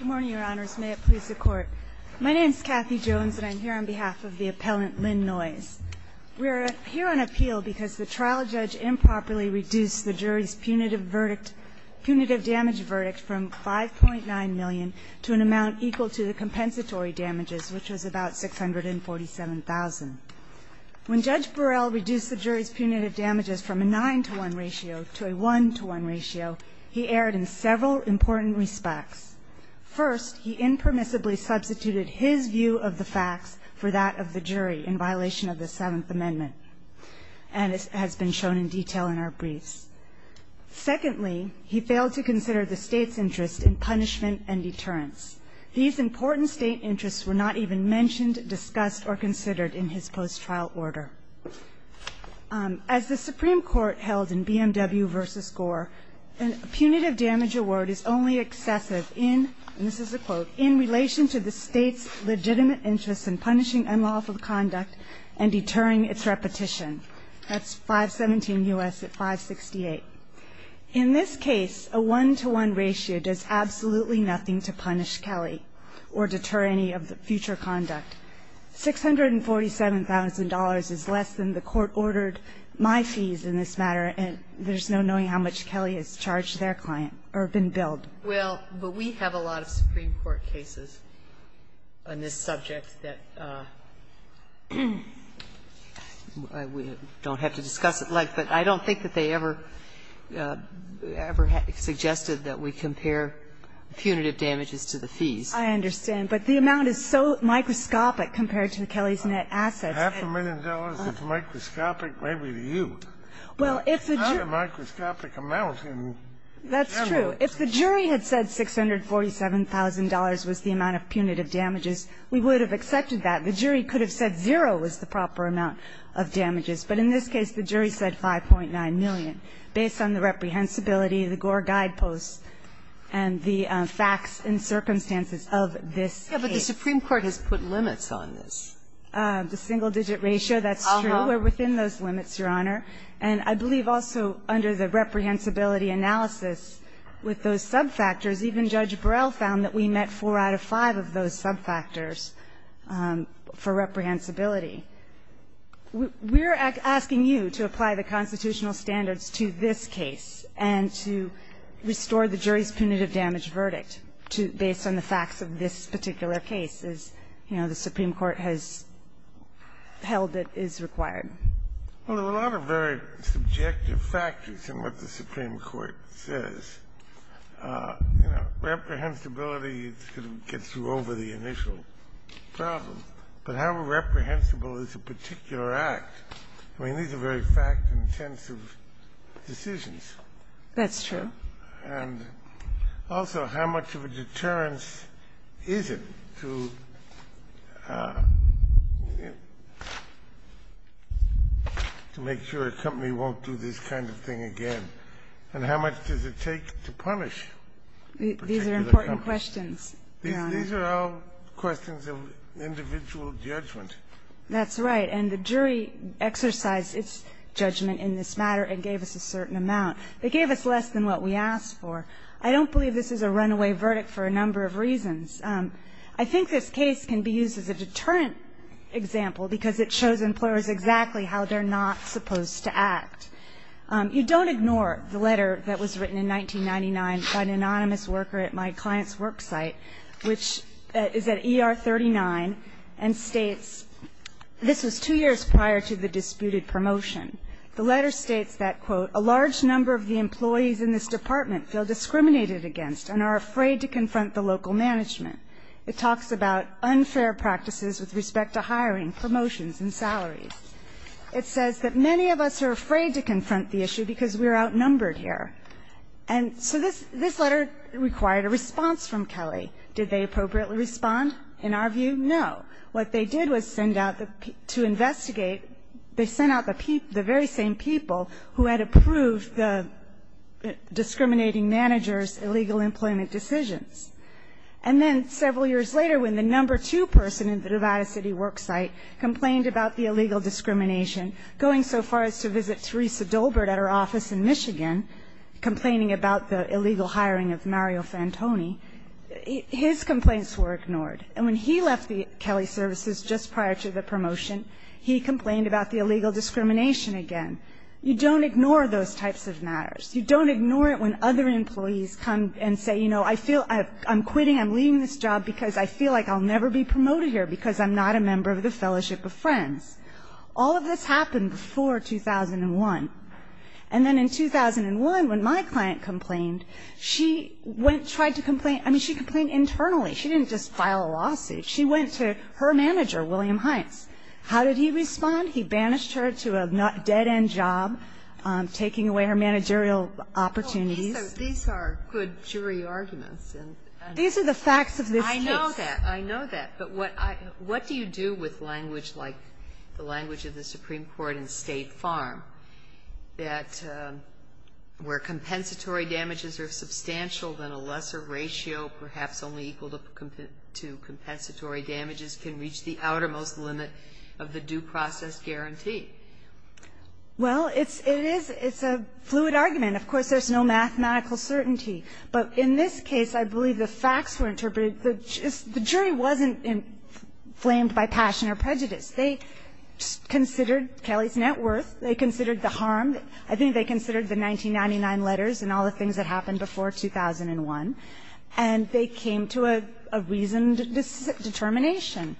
Good morning, Your Honors. May it please the Court. My name is Kathy Jones, and I'm here on behalf of the appellant Lynn Noyes. We're here on appeal because the trial judge improperly reduced the jury's punitive damage verdict from 5.9 million to an amount equal to the compensatory damages, which was about 647,000. When Judge Burrell reduced the jury's punitive damages from a 9-to-1 ratio to a 1-to-1 ratio, he erred in several important respects. First, he impermissibly substituted his view of the facts for that of the jury in violation of the Seventh Amendment, and it has been shown in detail in our briefs. Secondly, he failed to consider the State's interest in punishment and deterrence. These important State interests were not even mentioned, discussed, or considered in his post-trial order. As the Supreme Court held in BMW v. Gore, a punitive damage award is only excessive in, and this is a quote, in relation to the State's legitimate interest in punishing unlawful conduct and deterring its repetition. That's 517 U.S. at 568. In this case, a 1-to-1 ratio does absolutely nothing to punish Kelly or deter any future conduct. $647,000 is less than the court ordered my fees in this matter, and there's no knowing how much Kelly has charged their client or been billed. Well, but we have a lot of Supreme Court cases on this subject that we don't have to discuss at length, but I don't think that they ever suggested that we compare punitive damages to the fees. I understand, but the amount is so microscopic compared to Kelly's net assets. Half a million dollars is microscopic, maybe to you. It's not a microscopic amount in general. If the jury had said $647,000 was the amount of punitive damages, we would have accepted that. The jury could have said zero was the proper amount of damages. But in this case, the jury said 5.9 million. Based on the reprehensibility, the Gore guideposts and the facts and circumstances of this case. Yeah, but the Supreme Court has put limits on this. The single-digit ratio, that's true. We're within those limits, Your Honor. And I believe also under the reprehensibility analysis with those subfactors, even Judge Burrell found that we met four out of five of those subfactors for reprehensibility. We're asking you to apply the constitutional standards to this case and to restore the jury's punitive damage verdict based on the facts of this particular case, as, you know, the Supreme Court has held it is required. Well, there are a lot of very subjective factors in what the Supreme Court says. You know, reprehensibility gets you over the initial problem. But how reprehensible is a particular act? I mean, these are very fact-intensive decisions. That's true. And also, how much of a deterrence is it to make sure a company won't do this kind of thing again? And how much does it take to punish a particular company? These are important questions. These are all questions of individual judgment. That's right. And the jury exercised its judgment in this matter and gave us a certain amount. They gave us less than what we asked for. I don't believe this is a runaway verdict for a number of reasons. I think this case can be used as a deterrent example because it shows employers exactly how they're not supposed to act. You don't ignore the letter that was written in 1999 by an anonymous worker at my client's work site, which is at ER 39, and states this was two years prior to the disputed promotion. The letter states that, quote, a large number of the employees in this department feel discriminated against and are afraid to confront the local management. It talks about unfair practices with respect to hiring, promotions and salaries. It says that many of us are afraid to confront the issue because we are outnumbered here. And so this letter required a response from Kelly. Did they appropriately respond? In our view, no. What they did was send out the to investigate, they sent out the very same people who had approved the discriminating manager's illegal employment decisions. And then several years later, when the number two person in the Nevada City work site complained about the illegal discrimination, going so far as to visit Teresa Dolbert at her office in Michigan, complaining about the illegal hiring of Mario Fantoni, his complaints were ignored. And when he left the Kelly services just prior to the promotion, he complained about the illegal discrimination again. You don't ignore those types of matters. You don't ignore it when other employees come and say, you know, I feel I'm quitting, I'm leaving this job because I feel like I'll never be promoted here because I'm not a member of the Fellowship of Friends. All of this happened before 2001. And then in 2001, when my client complained, she went, tried to complain, I mean, she complained internally. She didn't just file a lawsuit. She went to her manager, William Hines. How did he respond? He banished her to a dead-end job, taking away her managerial opportunities. So these are good jury arguments. These are the facts of this case. I know that. I know that. But what do you do with language like the language of the Supreme Court in State Farm that where compensatory damages are substantial than a lesser ratio, perhaps only equal to compensatory damages can reach the outermost limit of the due process guarantee? Well, it's a fluid argument. Of course, there's no mathematical certainty. But in this case, I believe the facts were interpreted. The jury wasn't inflamed by passion or prejudice. They considered Kelly's net worth. They considered the harm. I think they considered the 1999 letters and all the things that happened before 2001. And they came to a reasoned determination.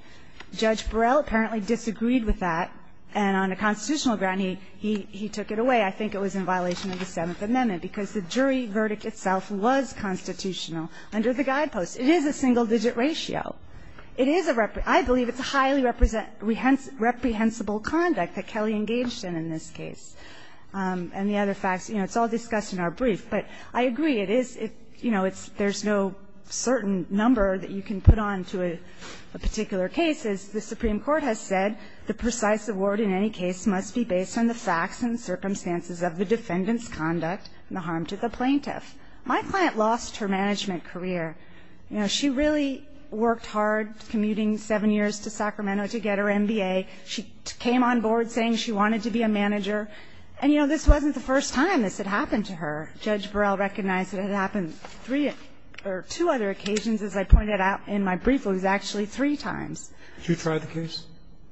Judge Burrell apparently disagreed with that. And on a constitutional ground, he took it away. I think it was in violation of the Seventh Amendment, because the jury verdict itself was constitutional under the guideposts. It is a single-digit ratio. It is a repre ---- I believe it's a highly represent ---- reprehensible conduct that Kelly engaged in in this case. And the other facts, you know, it's all discussed in our brief. But I agree. It is, you know, there's no certain number that you can put on to a particular case. As the Supreme Court has said, the precise award in any case must be based on the facts and circumstances of the defendant's conduct and the harm to the plaintiff. My client lost her management career. You know, she really worked hard commuting seven years to Sacramento to get her MBA. She came on board saying she wanted to be a manager. And, you know, this wasn't the first time this had happened to her. Judge Burrell recognized that it had happened three or two other occasions. As I pointed out in my brief, it was actually three times. Did you try the case?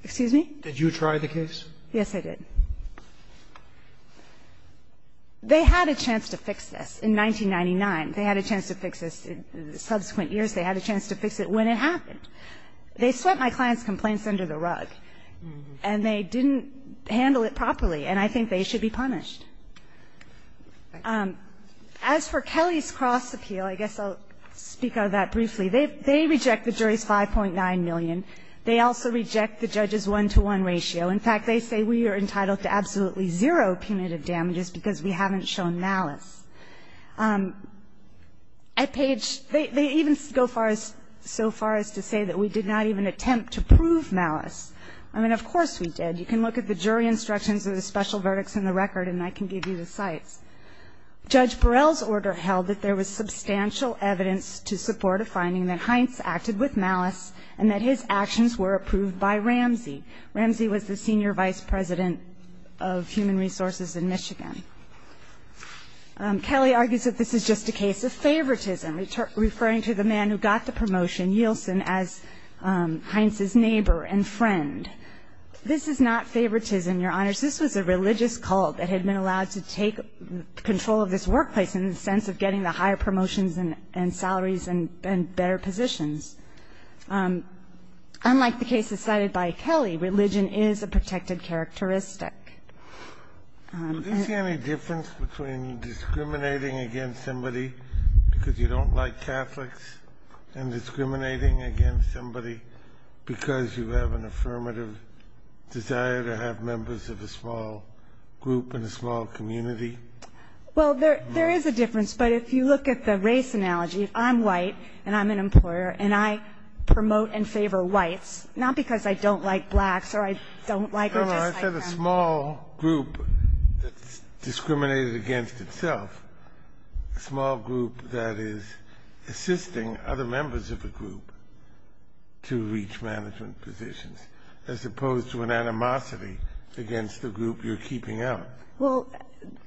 Excuse me? Did you try the case? Yes, I did. They had a chance to fix this in 1999. They had a chance to fix this in subsequent years. They had a chance to fix it when it happened. They swept my client's complaints under the rug. And they didn't handle it properly. And I think they should be punished. As for Kelly's cross appeal, I guess I'll speak of that briefly. They reject the jury's 5.9 million. They also reject the judge's one-to-one ratio. In fact, they say we are entitled to absolutely zero punitive damages because we haven't shown malice. At Page, they even go so far as to say that we did not even attempt to prove malice. I mean, of course we did. You can look at the jury instructions of the special verdicts in the record, and I can give you the cites. Judge Burrell's order held that there was substantial evidence to support a finding that Heinz acted with malice and that his actions were approved by Ramsey. Ramsey was the senior vice president of human resources in Michigan. Kelly argues that this is just a case of favoritism, referring to the man who got the promotion, Yielson, as Heinz's neighbor and friend. This is not favoritism, Your Honors. This was a religious cult that had been allowed to take control of this workplace in the sense of getting the higher promotions and salaries and better positions. Unlike the cases cited by Kelly, religion is a protected characteristic. of desire to have members of a small group in a small community? Well, there is a difference, but if you look at the race analogy, if I'm white and I'm an employer and I promote and favor whites, not because I don't like blacks or I don't like or dislike brown people. No, I said a small group that's discriminated against itself, a small group that is assisting other members of a group to reach management positions. As opposed to an animosity against the group you're keeping out. Well,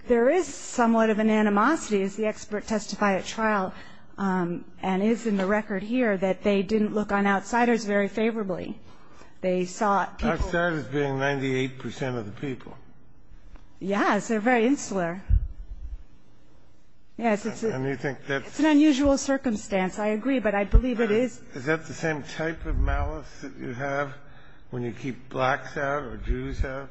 there is somewhat of an animosity, as the expert testified at trial and is in the record here that they didn't look on outsiders very favorably. Outsiders being 98% of the people. Yes, they're very insular. Yes, it's an unusual circumstance. I agree, but I believe it is. Is that the same type of malice that you have when you keep blacks out or Jews out?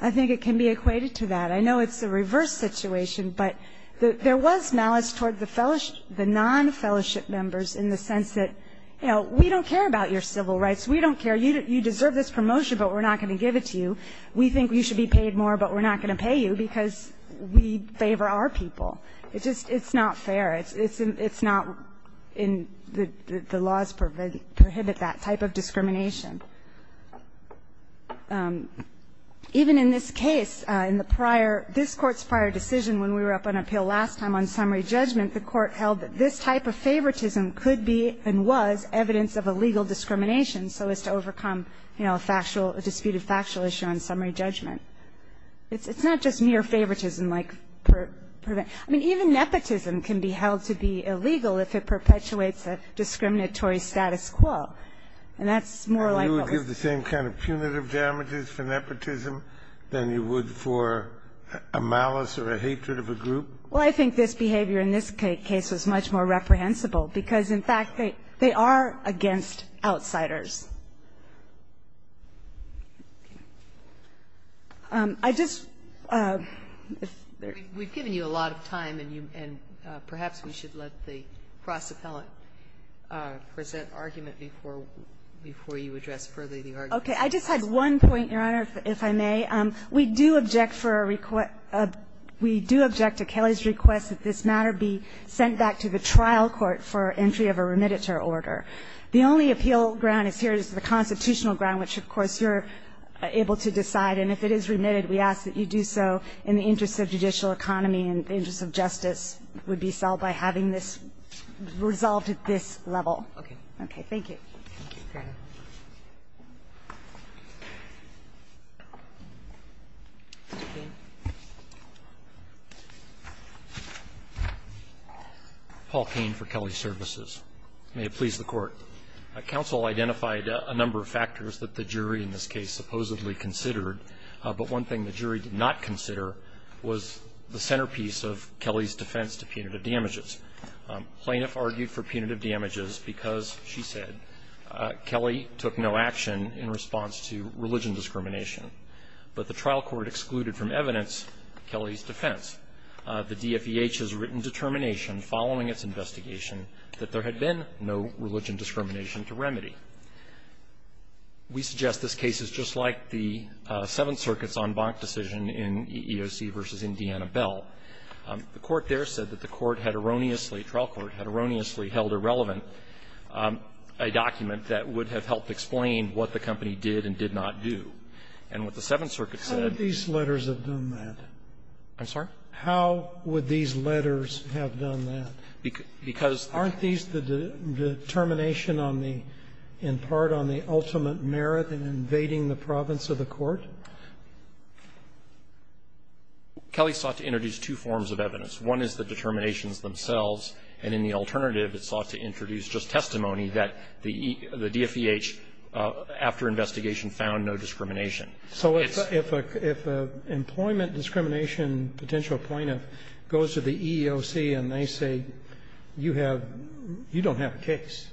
I think it can be equated to that. I know it's a reverse situation, but there was malice toward the non-fellowship members in the sense that, you know, we don't care about your civil rights. We don't care. You deserve this promotion, but we're not going to give it to you. We think you should be paid more, but we're not going to pay you because we favor our people. It's not fair. It's not in the laws prohibit that type of discrimination. Even in this case, in the prior, this Court's prior decision when we were up on appeal last time on summary judgment, the Court held that this type of favoritism could be and was evidence of a legal discrimination so as to overcome, you know, a factual, a disputed factual issue on summary judgment. It's not just mere favoritism. I mean, even nepotism can be held to be illegal if it perpetuates a discriminatory status quo, and that's more like what was said. And you would give the same kind of punitive damages for nepotism than you would for a malice or a hatred of a group? Well, I think this behavior in this case was much more reprehensible because, in fact, they are against outsiders. I just ---- We've given you a lot of time, and perhaps we should let the cross-appellant present argument before you address further the argument. Okay. I just had one point, Your Honor, if I may. We do object for a request to Kelly's request that this matter be sent back to the trial court for entry of a remitter order. The only appeal ground is here is the constitutional ground, which, of course, you're able to decide. And if it is remitted, we ask that you do so in the interest of judicial economy and the interest of justice would be solved by having this resolved at this level. Okay. Okay. Thank you. Thank you, Your Honor. Mr. Cain. Paul Cain for Kelly Services. May it please the Court. Counsel identified a number of factors that the jury in this case supposedly considered, but one thing the jury did not consider was the centerpiece of Kelly's defense to punitive damages. Plaintiff argued for punitive damages because, she said, Kelly took no action in response to religion discrimination. But the trial court excluded from evidence Kelly's defense. The DFEH has written determination following its investigation that there had been no religion discrimination to remedy. We suggest this case is just like the Seventh Circuit's en banc decision in EEOC v. Indiana Bell. The court there said that the court had erroneously, trial court, had erroneously held irrelevant a document that would have helped explain what the company did and did not do. And what the Seventh Circuit said --" How would these letters have done that? I'm sorry? How would these letters have done that? Because the --" Aren't these the determination on the ultimate merit in invading the province of the court? Kelly sought to introduce two forms of evidence. One is the determinations themselves, and in the alternative, it sought to introduce just testimony that the DFEH, after investigation, found no discrimination. It's --" So if an employment discrimination potential plaintiff goes to the EEOC and they say, you have you don't have a case,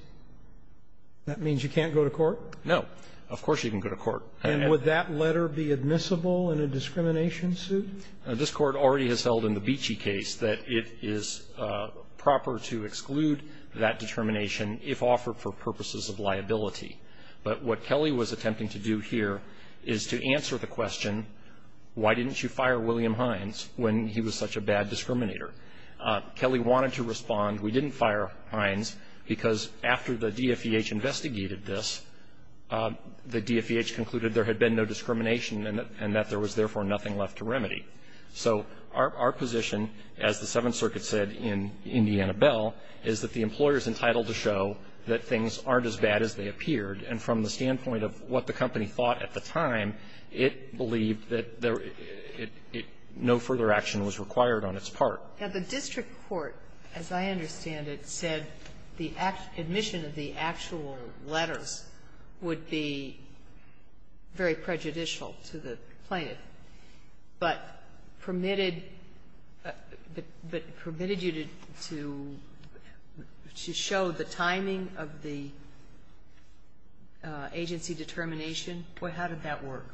that means you can't go to court? No. Of course you can go to court. And would that letter be admissible in a discrimination suit? Now, this Court already has held in the Beachy case that it is proper to exclude that determination if offered for purposes of liability. But what Kelly was attempting to do here is to answer the question, why didn't you fire William Hines when he was such a bad discriminator? Kelly wanted to respond, we didn't fire Hines, because after the DFEH investigated this, the DFEH concluded there had been no discrimination and that there was, therefore, nothing left to remedy. So our position, as the Seventh Circuit said in Indiana Bell, is that the employer is entitled to show that things aren't as bad as they appeared. And from the standpoint of what the company thought at the time, it believed that no further action was required on its part. Now, the district court, as I understand it, said the admission of the actual letters would be very prejudicial to the plaintiff. But permitted you to show the timing of the agency determination, how did that work?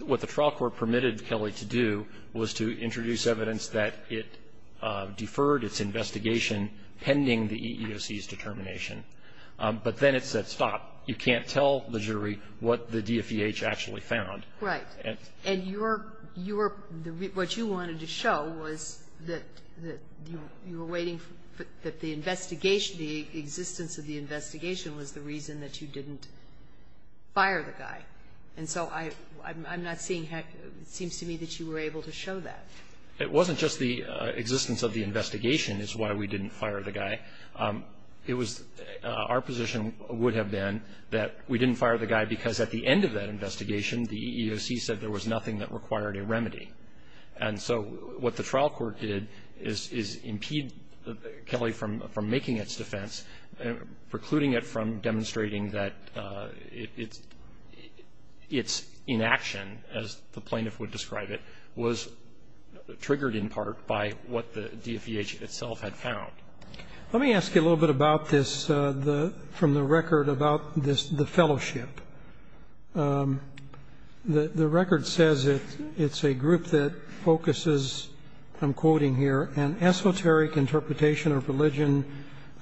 What the trial court permitted Kelly to do was to introduce evidence that it deferred its investigation pending the EEOC's determination. But then it said, stop, you can't tell the jury what the DFEH actually found. Right. And what you wanted to show was that you were waiting for the investigation, the existence of the investigation was the reason that you didn't fire the guy. And so I'm not seeing, it seems to me that you were able to show that. It wasn't just the existence of the investigation is why we didn't fire the guy. It was, our position would have been that we didn't fire the guy because at the end of that investigation, the EEOC said there was nothing that required a remedy. And so what the trial court did is impede Kelly from making its defense, precluding it from demonstrating that its inaction, as the plaintiff would describe it, was triggered in part by what the DFEH itself had found. Let me ask you a little bit about this from the record about the fellowship. The record says it's a group that focuses, I'm quoting here, an esoteric interpretation of religion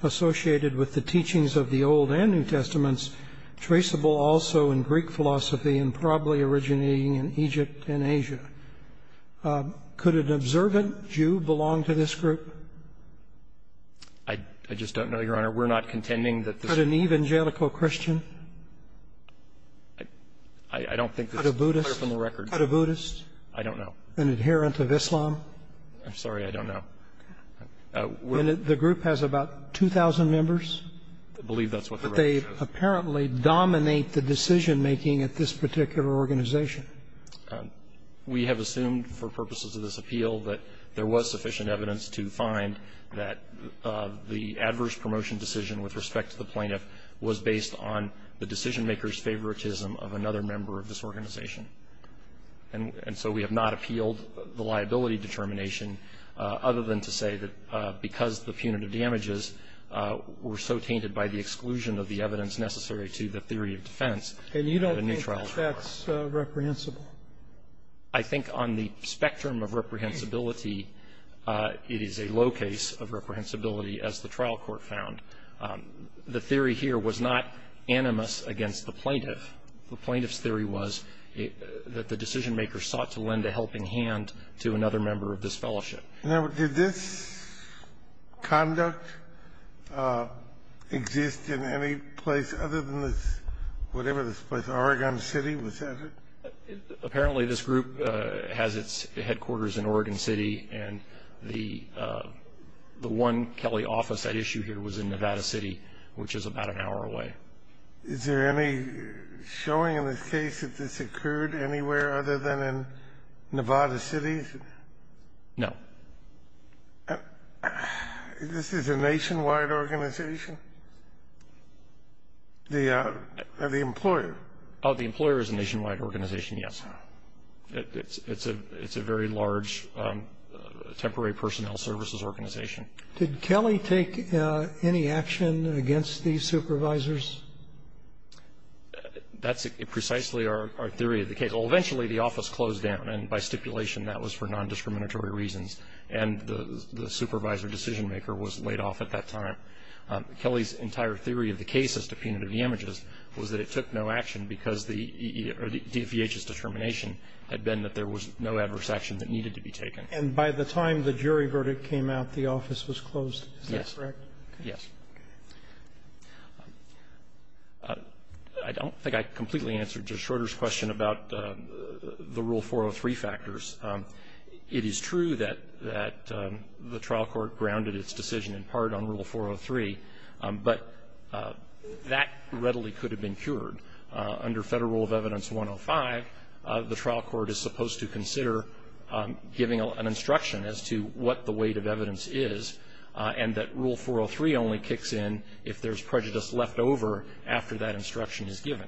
associated with the teachings of the Old and New Testaments, traceable also in Greek philosophy and probably originating in Egypt and Asia. Could an observant Jew belong to this group? I just don't know, Your Honor. We're not contending that this group. Could an evangelical Christian? I don't think this is clear from the record. Could a Buddhist? I don't know. An adherent of Islam? I'm sorry. I don't know. And the group has about 2,000 members? I believe that's what the record shows. But they apparently dominate the decision-making at this particular organization. We have assumed for purposes of this appeal that there was sufficient evidence to find that the adverse promotion decision with respect to the plaintiff was based on the decision-maker's favoritism of another member of this organization. And so we have not appealed the liability determination other than to say that because the punitive damages were so tainted by the exclusion of the evidence necessary to the theory of defense. And you don't think that's reprehensible? I think on the spectrum of reprehensibility, it is a low case of reprehensibility as the trial court found. The theory here was not animus against the plaintiff. The plaintiff's theory was that the decision-maker sought to lend a helping hand to another member of this fellowship. Now, did this conduct exist in any place other than this, whatever this place, Oregon City? Was that it? Apparently, this group has its headquarters in Oregon City, and the one Kelly office at issue here was in Nevada City, which is about an hour away. Is there any showing in this case that this occurred anywhere other than in Nevada City? No. This is a nationwide organization? The employer? The employer is a nationwide organization, yes. It's a very large temporary personnel services organization. Did Kelly take any action against these supervisors? That's precisely our theory of the case. Well, eventually the office closed down, and by stipulation that was for non-discriminatory reasons, and the supervisor decision-maker was laid off at that time. Kelly's entire theory of the case as to punitive damages was that it took no action because the DEH's determination had been that there was no adverse action that needed to be taken. And by the time the jury verdict came out, the office was closed. Is that correct? Yes. I don't think I completely answered Judge Schroeder's question about the Rule 403 factors. It is true that the trial court grounded its decision in part on Rule 403, but that readily could have been cured. Under Federal Rule of Evidence 105, the trial court is supposed to consider giving an instruction as to what the weight of evidence is, and that Rule 403 only kicks in if there's prejudice left over after that instruction is given.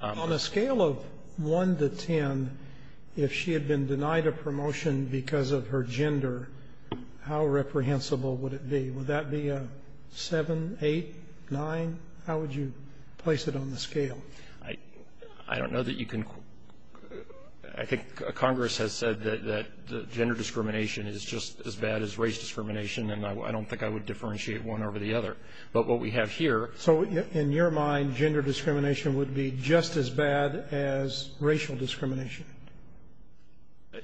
On a scale of 1 to 10, if she had been denied a promotion because of her gender, how reprehensible would it be? Would that be a 7, 8, 9? How would you place it on the scale? I don't know that you can. I think Congress has said that gender discrimination is just as bad as race discrimination, and I don't think I would differentiate one over the other. But what we have here ---- So in your mind, gender discrimination would be just as bad as racial discrimination?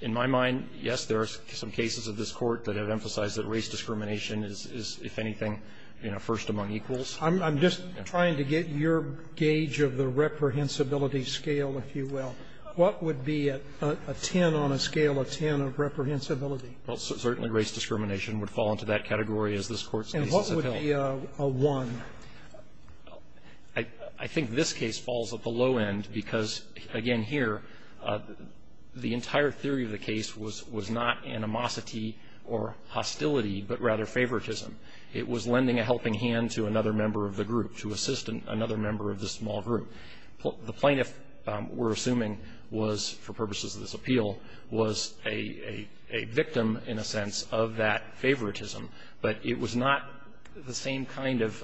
In my mind, yes, there are some cases of this Court that have emphasized that race discrimination is, if anything, first among equals. I'm just trying to get your gauge of the reprehensibility scale, if you will. What would be a 10 on a scale of 10 of reprehensibility? Well, certainly race discrimination would fall into that category as this Court's case is held. And what would be a 1? I think this case falls at the low end because, again, here the entire theory of the case was not animosity or hostility, but rather favoritism. It was lending a helping hand to another member of the group, to assist another member of the small group. The plaintiff, we're assuming, was, for purposes of this appeal, was a victim, in a sense, of that favoritism, but it was not the same kind of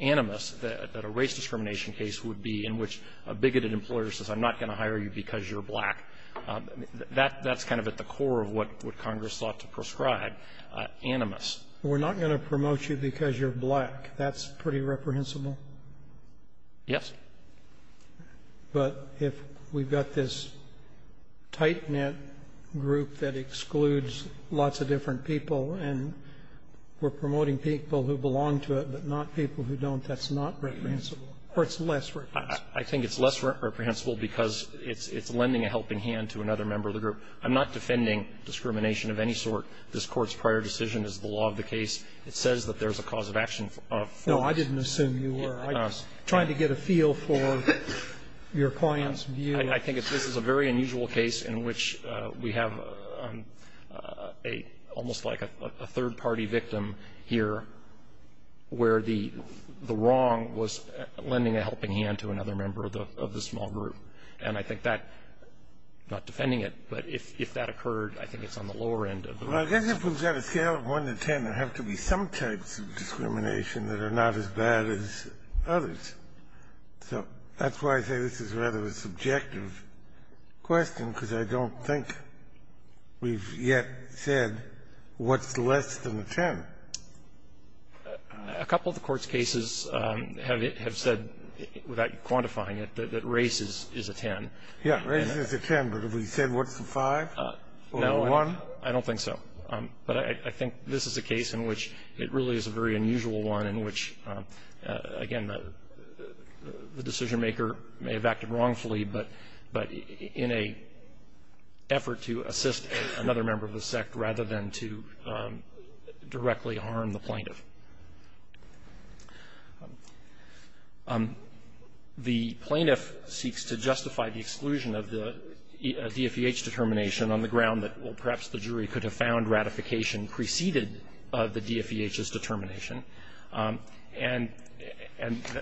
animus that a race discrimination case would be in which a bigoted employer says, I'm not going to hire you because you're black. That's kind of at the core of what Congress sought to prescribe, animus. We're not going to promote you because you're black. That's pretty reprehensible? Yes. But if we've got this tight-knit group that excludes lots of different people and we're promoting people who belong to it but not people who don't, that's not reprehensible, or it's less reprehensible? I think it's less reprehensible because it's lending a helping hand to another member of the group. I'm not defending discrimination of any sort. This Court's prior decision is the law of the case. It says that there's a cause of action for this. No, I didn't assume you were. I'm just trying to get a feel for your client's view. I think this is a very unusual case in which we have a almost like a third-party victim here, where the wrong was lending a helping hand to another member of the small group. And I think that, I'm not defending it, but if that occurred, I think it's on the lower end of the list. Well, I guess if we've got a scale of 1 to 10, there have to be some types of discrimination that are not as bad as others. So that's why I say this is rather a subjective question, because I don't think we've yet said what's less than a 10. A couple of the Court's cases have said, without quantifying it, that race is a 10. Yeah, race is a 10. But have we said what's a 5 or a 1? No, I don't think so. But I think this is a case in which it really is a very unusual one in which, again, the decision-maker may have acted wrongfully, but in an effort to assist another member of the sect rather than to directly harm the plaintiff. The plaintiff seeks to justify the exclusion of the DFEH determination on the ground that, well, perhaps the jury could have found ratification preceded the DFEH's determination. And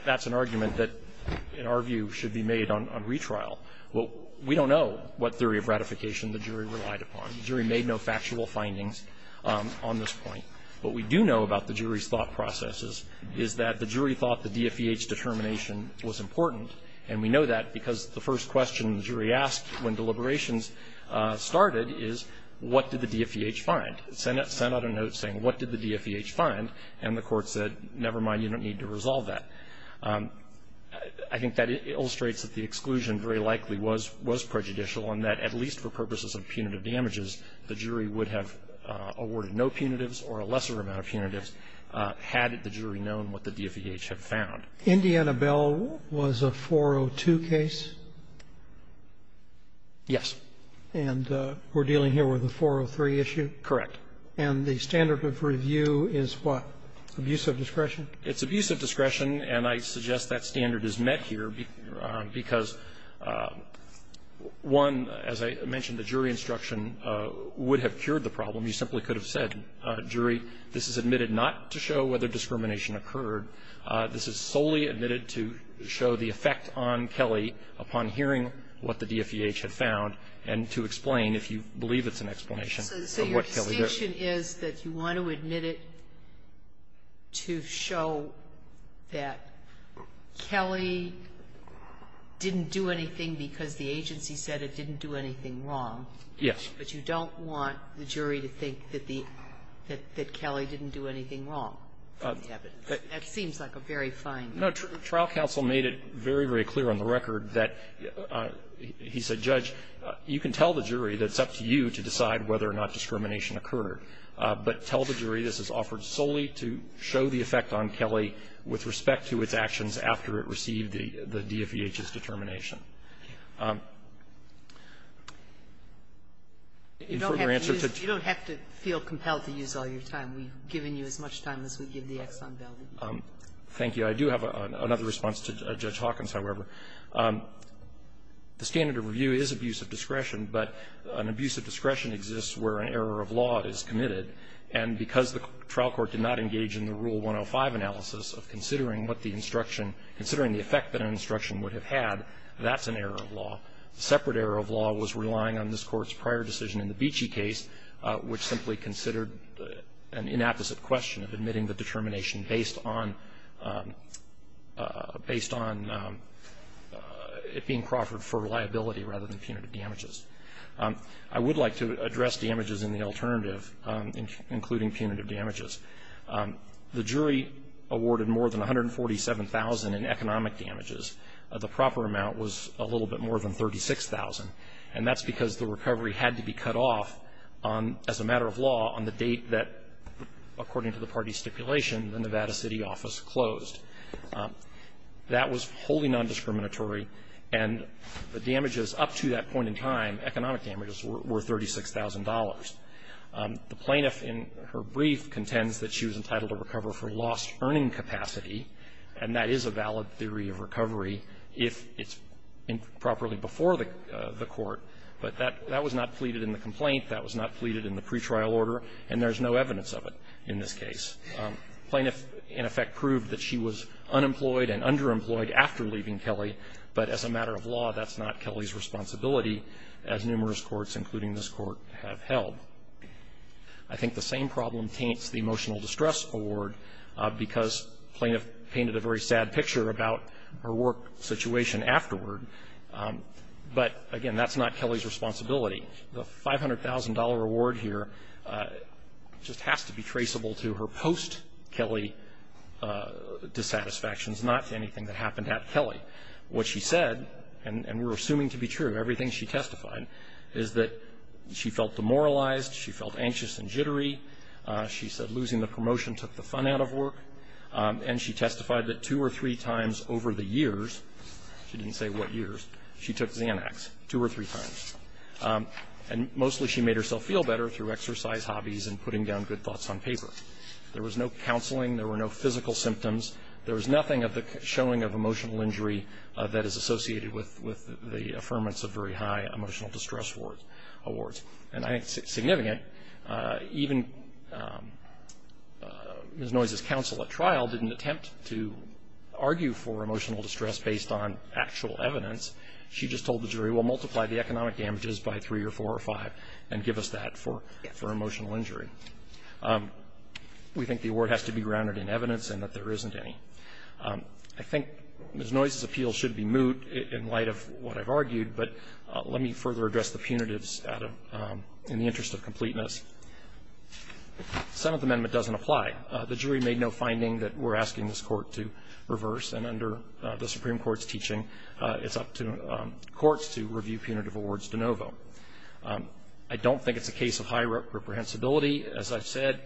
that's an argument that, in our view, should be made on retrial. Well, we don't know what theory of ratification the jury relied upon. The jury made no factual findings on this point. What we do know about the jury's thought processes is that the jury thought the DFEH determination was important, and we know that because the first question the jury asked when deliberations started is, what did the DFEH find? And the court said, never mind, you don't need to resolve that. I think that illustrates that the exclusion very likely was prejudicial and that, at least for purposes of punitive damages, the jury would have awarded no punitives or a lesser amount of punitives had the jury known what the DFEH had found. Indiana Bell was a 402 case? Yes. And we're dealing here with a 403 issue? Correct. And the standard of review is what? Abuse of discretion? It's abuse of discretion, and I suggest that standard is met here because, one, as I mentioned, the jury instruction would have cured the problem. You simply could have said, jury, this is admitted not to show whether discrimination occurred. This is solely admitted to show the effect on Kelly upon hearing what the DFEH had The distinction is that you want to admit it to show that Kelly didn't do anything because the agency said it didn't do anything wrong. Yes. But you don't want the jury to think that the – that Kelly didn't do anything wrong from the evidence. That seems like a very fine line. No. Trial counsel made it very, very clear on the record that he said, Judge, you can tell the jury that it's up to you to decide whether or not discrimination occurred, but tell the jury this is offered solely to show the effect on Kelly with respect to its actions after it received the DFEH's determination. You don't have to feel compelled to use all your time. We've given you as much time as we give the Exxon Valdez. Thank you. I do have another response to Judge Hawkins, however. The standard of review is abuse of discretion, but an abuse of discretion exists where an error of law is committed. And because the trial court did not engage in the Rule 105 analysis of considering what the instruction – considering the effect that an instruction would have had, that's an error of law. A separate error of law was relying on this Court's prior decision in the Beachy case, which simply considered an inapposite question of admitting the determination based on – based on it being proffered for reliability rather than punitive damages. I would like to address damages in the alternative, including punitive damages. The jury awarded more than $147,000 in economic damages. The proper amount was a little bit more than $36,000. And that's because the recovery had to be cut off as a matter of law on the date that, according to the party's stipulation, the Nevada City office closed. That was wholly nondiscriminatory, and the damages up to that point in time, economic damages, were $36,000. The plaintiff in her brief contends that she was entitled to recover for lost earning capacity, and that is a valid theory of recovery if it's properly before the court. But that was not pleaded in the complaint. That was not pleaded in the pretrial order. And there's no evidence of it in this case. The plaintiff, in effect, proved that she was unemployed and underemployed after leaving Kelley. But as a matter of law, that's not Kelley's responsibility, as numerous courts, including this Court, have held. I think the same problem taints the emotional distress award, because plaintiff painted a very sad picture about her work situation afterward. But, again, that's not Kelley's responsibility. The $500,000 award here just has to be traceable to her post-Kelley dissatisfactions, not to anything that happened at Kelley. What she said, and we're assuming to be true, everything she testified, is that she felt demoralized, she felt anxious and jittery, she said losing the promotion took the fun out of work, and she testified that two or three times over the years – she didn't say what years – she took Xanax two or three times. And mostly she made herself feel better through exercise, hobbies, and putting down good thoughts on paper. There was no counseling, there were no physical symptoms, there was nothing of the showing of emotional injury that is associated with the affirmance of very high emotional distress awards. And I think it's significant. Even Ms. Noyes' counsel at trial didn't attempt to argue for emotional distress based on actual evidence. She just told the jury, well, multiply the economic damages by three or four or five and give us that for emotional injury. We think the award has to be grounded in evidence and that there isn't any. I think Ms. Noyes' appeal should be moot in light of what I've argued, but let me further address the punitives in the interest of completeness. Senate amendment doesn't apply. The jury made no finding that we're asking this court to reverse. And under the Supreme Court's teaching, it's up to courts to review punitive awards de novo. I don't think it's a case of high reprehensibility. As I've said,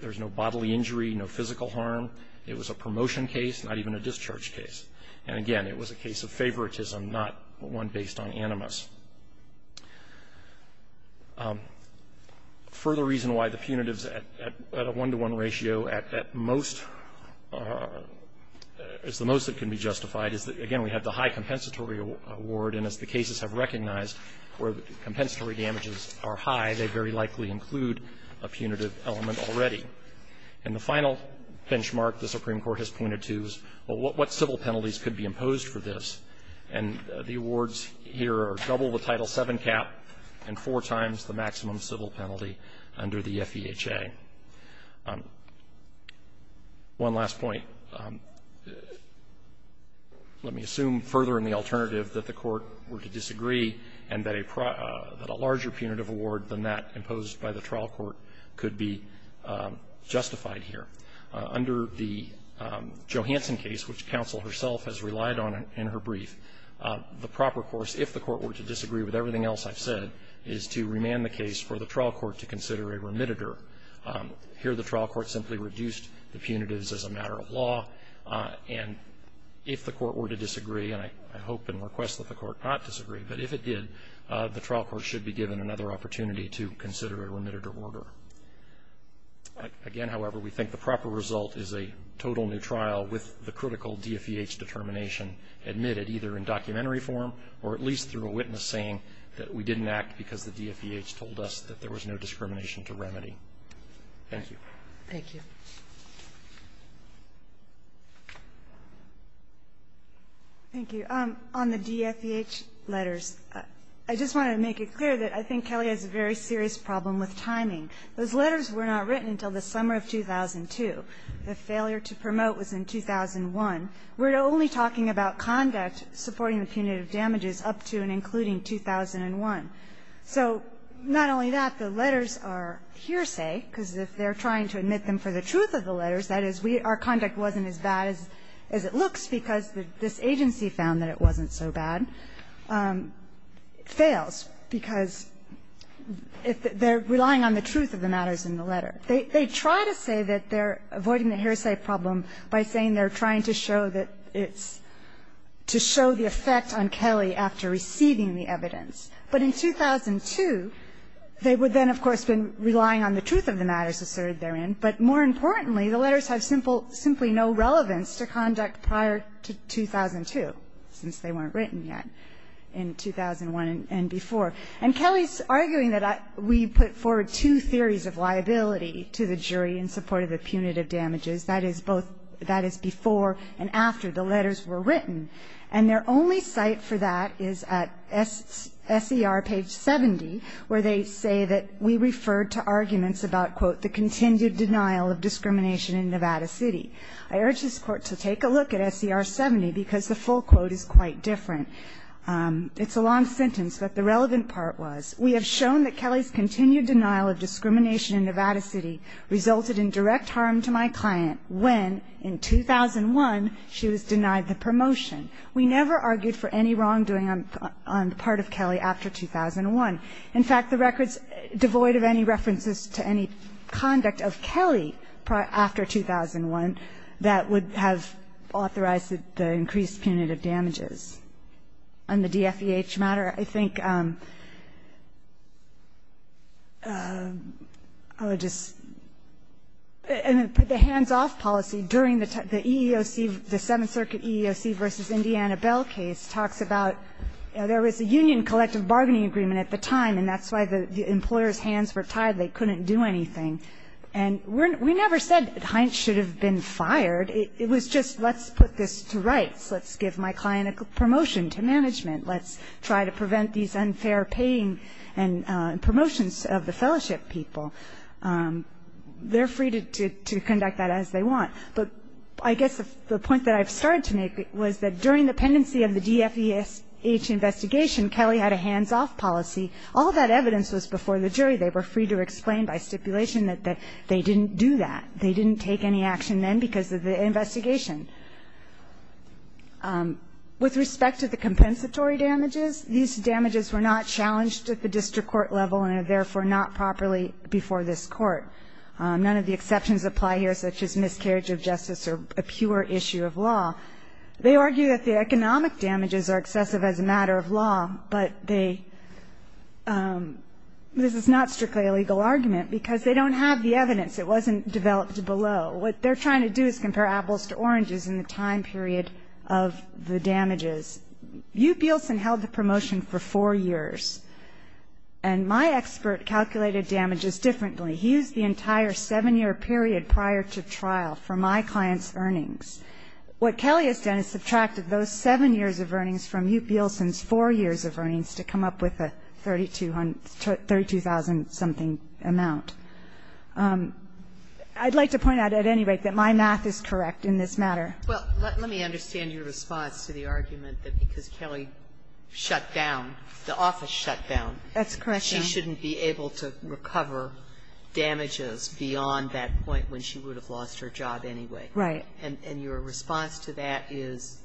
there's no bodily injury, no physical harm. It was a promotion case, not even a discharge case. And again, it was a case of favoritism, not one based on animus. Further reason why the punitives at a one-to-one ratio at most is the most that can be justified is that, again, we have the high compensatory award. And as the cases have recognized where the compensatory damages are high, they very likely include a punitive element already. And the final benchmark the Supreme Court has pointed to is, well, what civil penalties could be imposed for this? And the awards here are double the Title VII cap and four times the maximum civil penalty under the FEHA. One last point. Let me assume further in the alternative that the court were to disagree and that a larger punitive award than that imposed by the trial court could be justified here. Under the Johanson case, which counsel herself has relied on in her brief, the proper course, if the court were to disagree with everything else I've said, is to remand the case for the trial court to consider a remittitor. Here the trial court simply reduced the punitives as a matter of law. And if the court were to disagree, and I hope and request that the court not disagree, but if it did, the trial court should be given another opportunity to consider a remittitor order. Again, however, we think the proper result is a total new trial with the critical DFEH determination admitted either in documentary form or at least through a witness saying that we didn't act because the DFEH told us that there was no discrimination to remedy. Thank you. Thank you. Thank you. On the DFEH letters, I just want to make it clear that I think Kelly has a very good point. Those letters were not written until the summer of 2002. The failure to promote was in 2001. We're only talking about conduct supporting the punitive damages up to and including 2001. So not only that, the letters are hearsay, because if they're trying to admit them for the truth of the letters, that is, our conduct wasn't as bad as it looks because this agency found that it wasn't so bad, fails, because they're relying on the truth of the matters in the letter. They try to say that they're avoiding the hearsay problem by saying they're trying to show that it's to show the effect on Kelly after receiving the evidence. But in 2002, they would then, of course, have been relying on the truth of the matters asserted therein. But more importantly, the letters have simply no relevance to conduct prior to 2002, since they weren't written yet in 2001 and before. And Kelly's arguing that we put forward two theories of liability to the jury in support of the punitive damages. That is both before and after the letters were written. And their only cite for that is at SER page 70, where they say that we referred to arguments about, quote, the continued denial of discrimination in Nevada City. I urge this Court to take a look at SER 70, because the full quote is quite different. It's a long sentence, but the relevant part was, We have shown that Kelly's continued denial of discrimination in Nevada City resulted in direct harm to my client when, in 2001, she was denied the promotion. We never argued for any wrongdoing on the part of Kelly after 2001. In fact, the record's devoid of any references to any conduct of Kelly after 2001 that would have authorized the increased punitive damages. On the DFEH matter, I think I would just put the hands-off policy during the EEOC, the Seventh Circuit EEOC v. Indiana Bell case, talks about there was a union collective bargaining agreement at the time, and that's why the employer's hands were tied. They couldn't do anything. And we never said, the client should have been fired. It was just, let's put this to rights. Let's give my client a promotion to management. Let's try to prevent these unfair paying and promotions of the fellowship people. They're free to conduct that as they want. But I guess the point that I've started to make was that during the pendency of the DFEH investigation, Kelly had a hands-off policy. All that evidence was before the jury. They were free to explain by stipulation that they didn't do that. They didn't take any action then because of the investigation. With respect to the compensatory damages, these damages were not challenged at the district court level and are therefore not properly before this Court. None of the exceptions apply here, such as miscarriage of justice or a pure issue of law. They argue that the economic damages are excessive as a matter of law, but they ‑‑ this is not strictly a legal argument because they don't have the evidence. It wasn't developed below. What they're trying to do is compare apples to oranges in the time period of the damages. Youpielsen held the promotion for four years. And my expert calculated damages differently. He used the entire seven-year period prior to trial for my client's earnings. What Kelly has done is subtracted those seven years of earnings from Youpielsen's four years of earnings to come up with a 32,000‑something amount. I'd like to point out at any rate that my math is correct in this matter. Well, let me understand your response to the argument that because Kelly shut down, the office shut down. That's correct, Your Honor. She shouldn't be able to recover damages beyond that point when she would have lost her job anyway. Right. And your response to that is?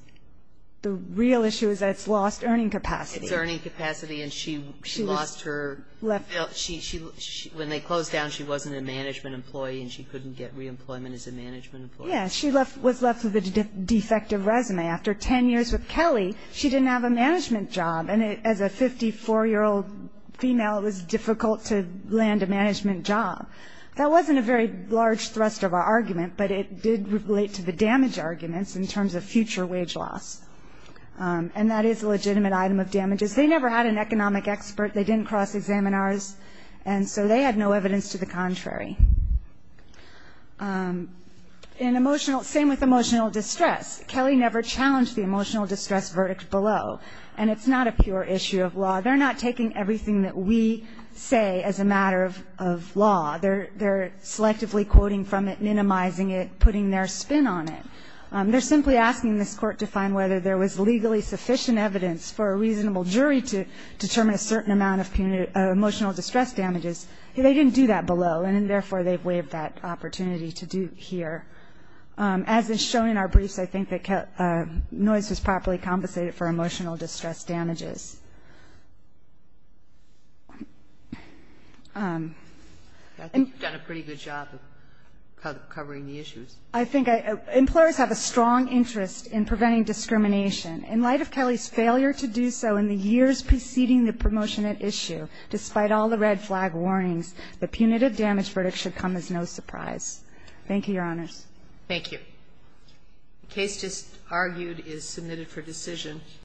The real issue is that it's lost earning capacity. It's earning capacity, and she lost her ‑‑ Left ‑‑ When they closed down, she wasn't a management employee, and she couldn't get reemployment as a management employee. Yes. She was left with a defective resume. After 10 years with Kelly, she didn't have a management job. And as a 54‑year‑old female, it was difficult to land a management job. That wasn't a very large thrust of our argument, but it did relate to the damage arguments in terms of future wage loss. Okay. And that is a legitimate item of damages. They never had an economic expert. They didn't cross examiners, and so they had no evidence to the contrary. In emotional ‑‑ same with emotional distress. Kelly never challenged the emotional distress verdict below, and it's not a pure issue of law. They're not taking everything that we say as a matter of law. They're selectively quoting from it, minimizing it, putting their spin on it. They're simply asking this Court to find whether there was legally sufficient evidence for a reasonable jury to determine a certain amount of emotional distress damages. They didn't do that below, and therefore they waived that opportunity to do here. As is shown in our briefs, I think that noise was properly compensated for emotional distress damages. I think you've done a pretty good job of covering the issues. I think employers have a strong interest in preventing discrimination. In light of Kelly's failure to do so in the years preceding the promotion at issue, despite all the red flag warnings, the punitive damage verdict should come as no surprise. Thank you, Your Honors. Thank you. The case just argued is submitted for decision.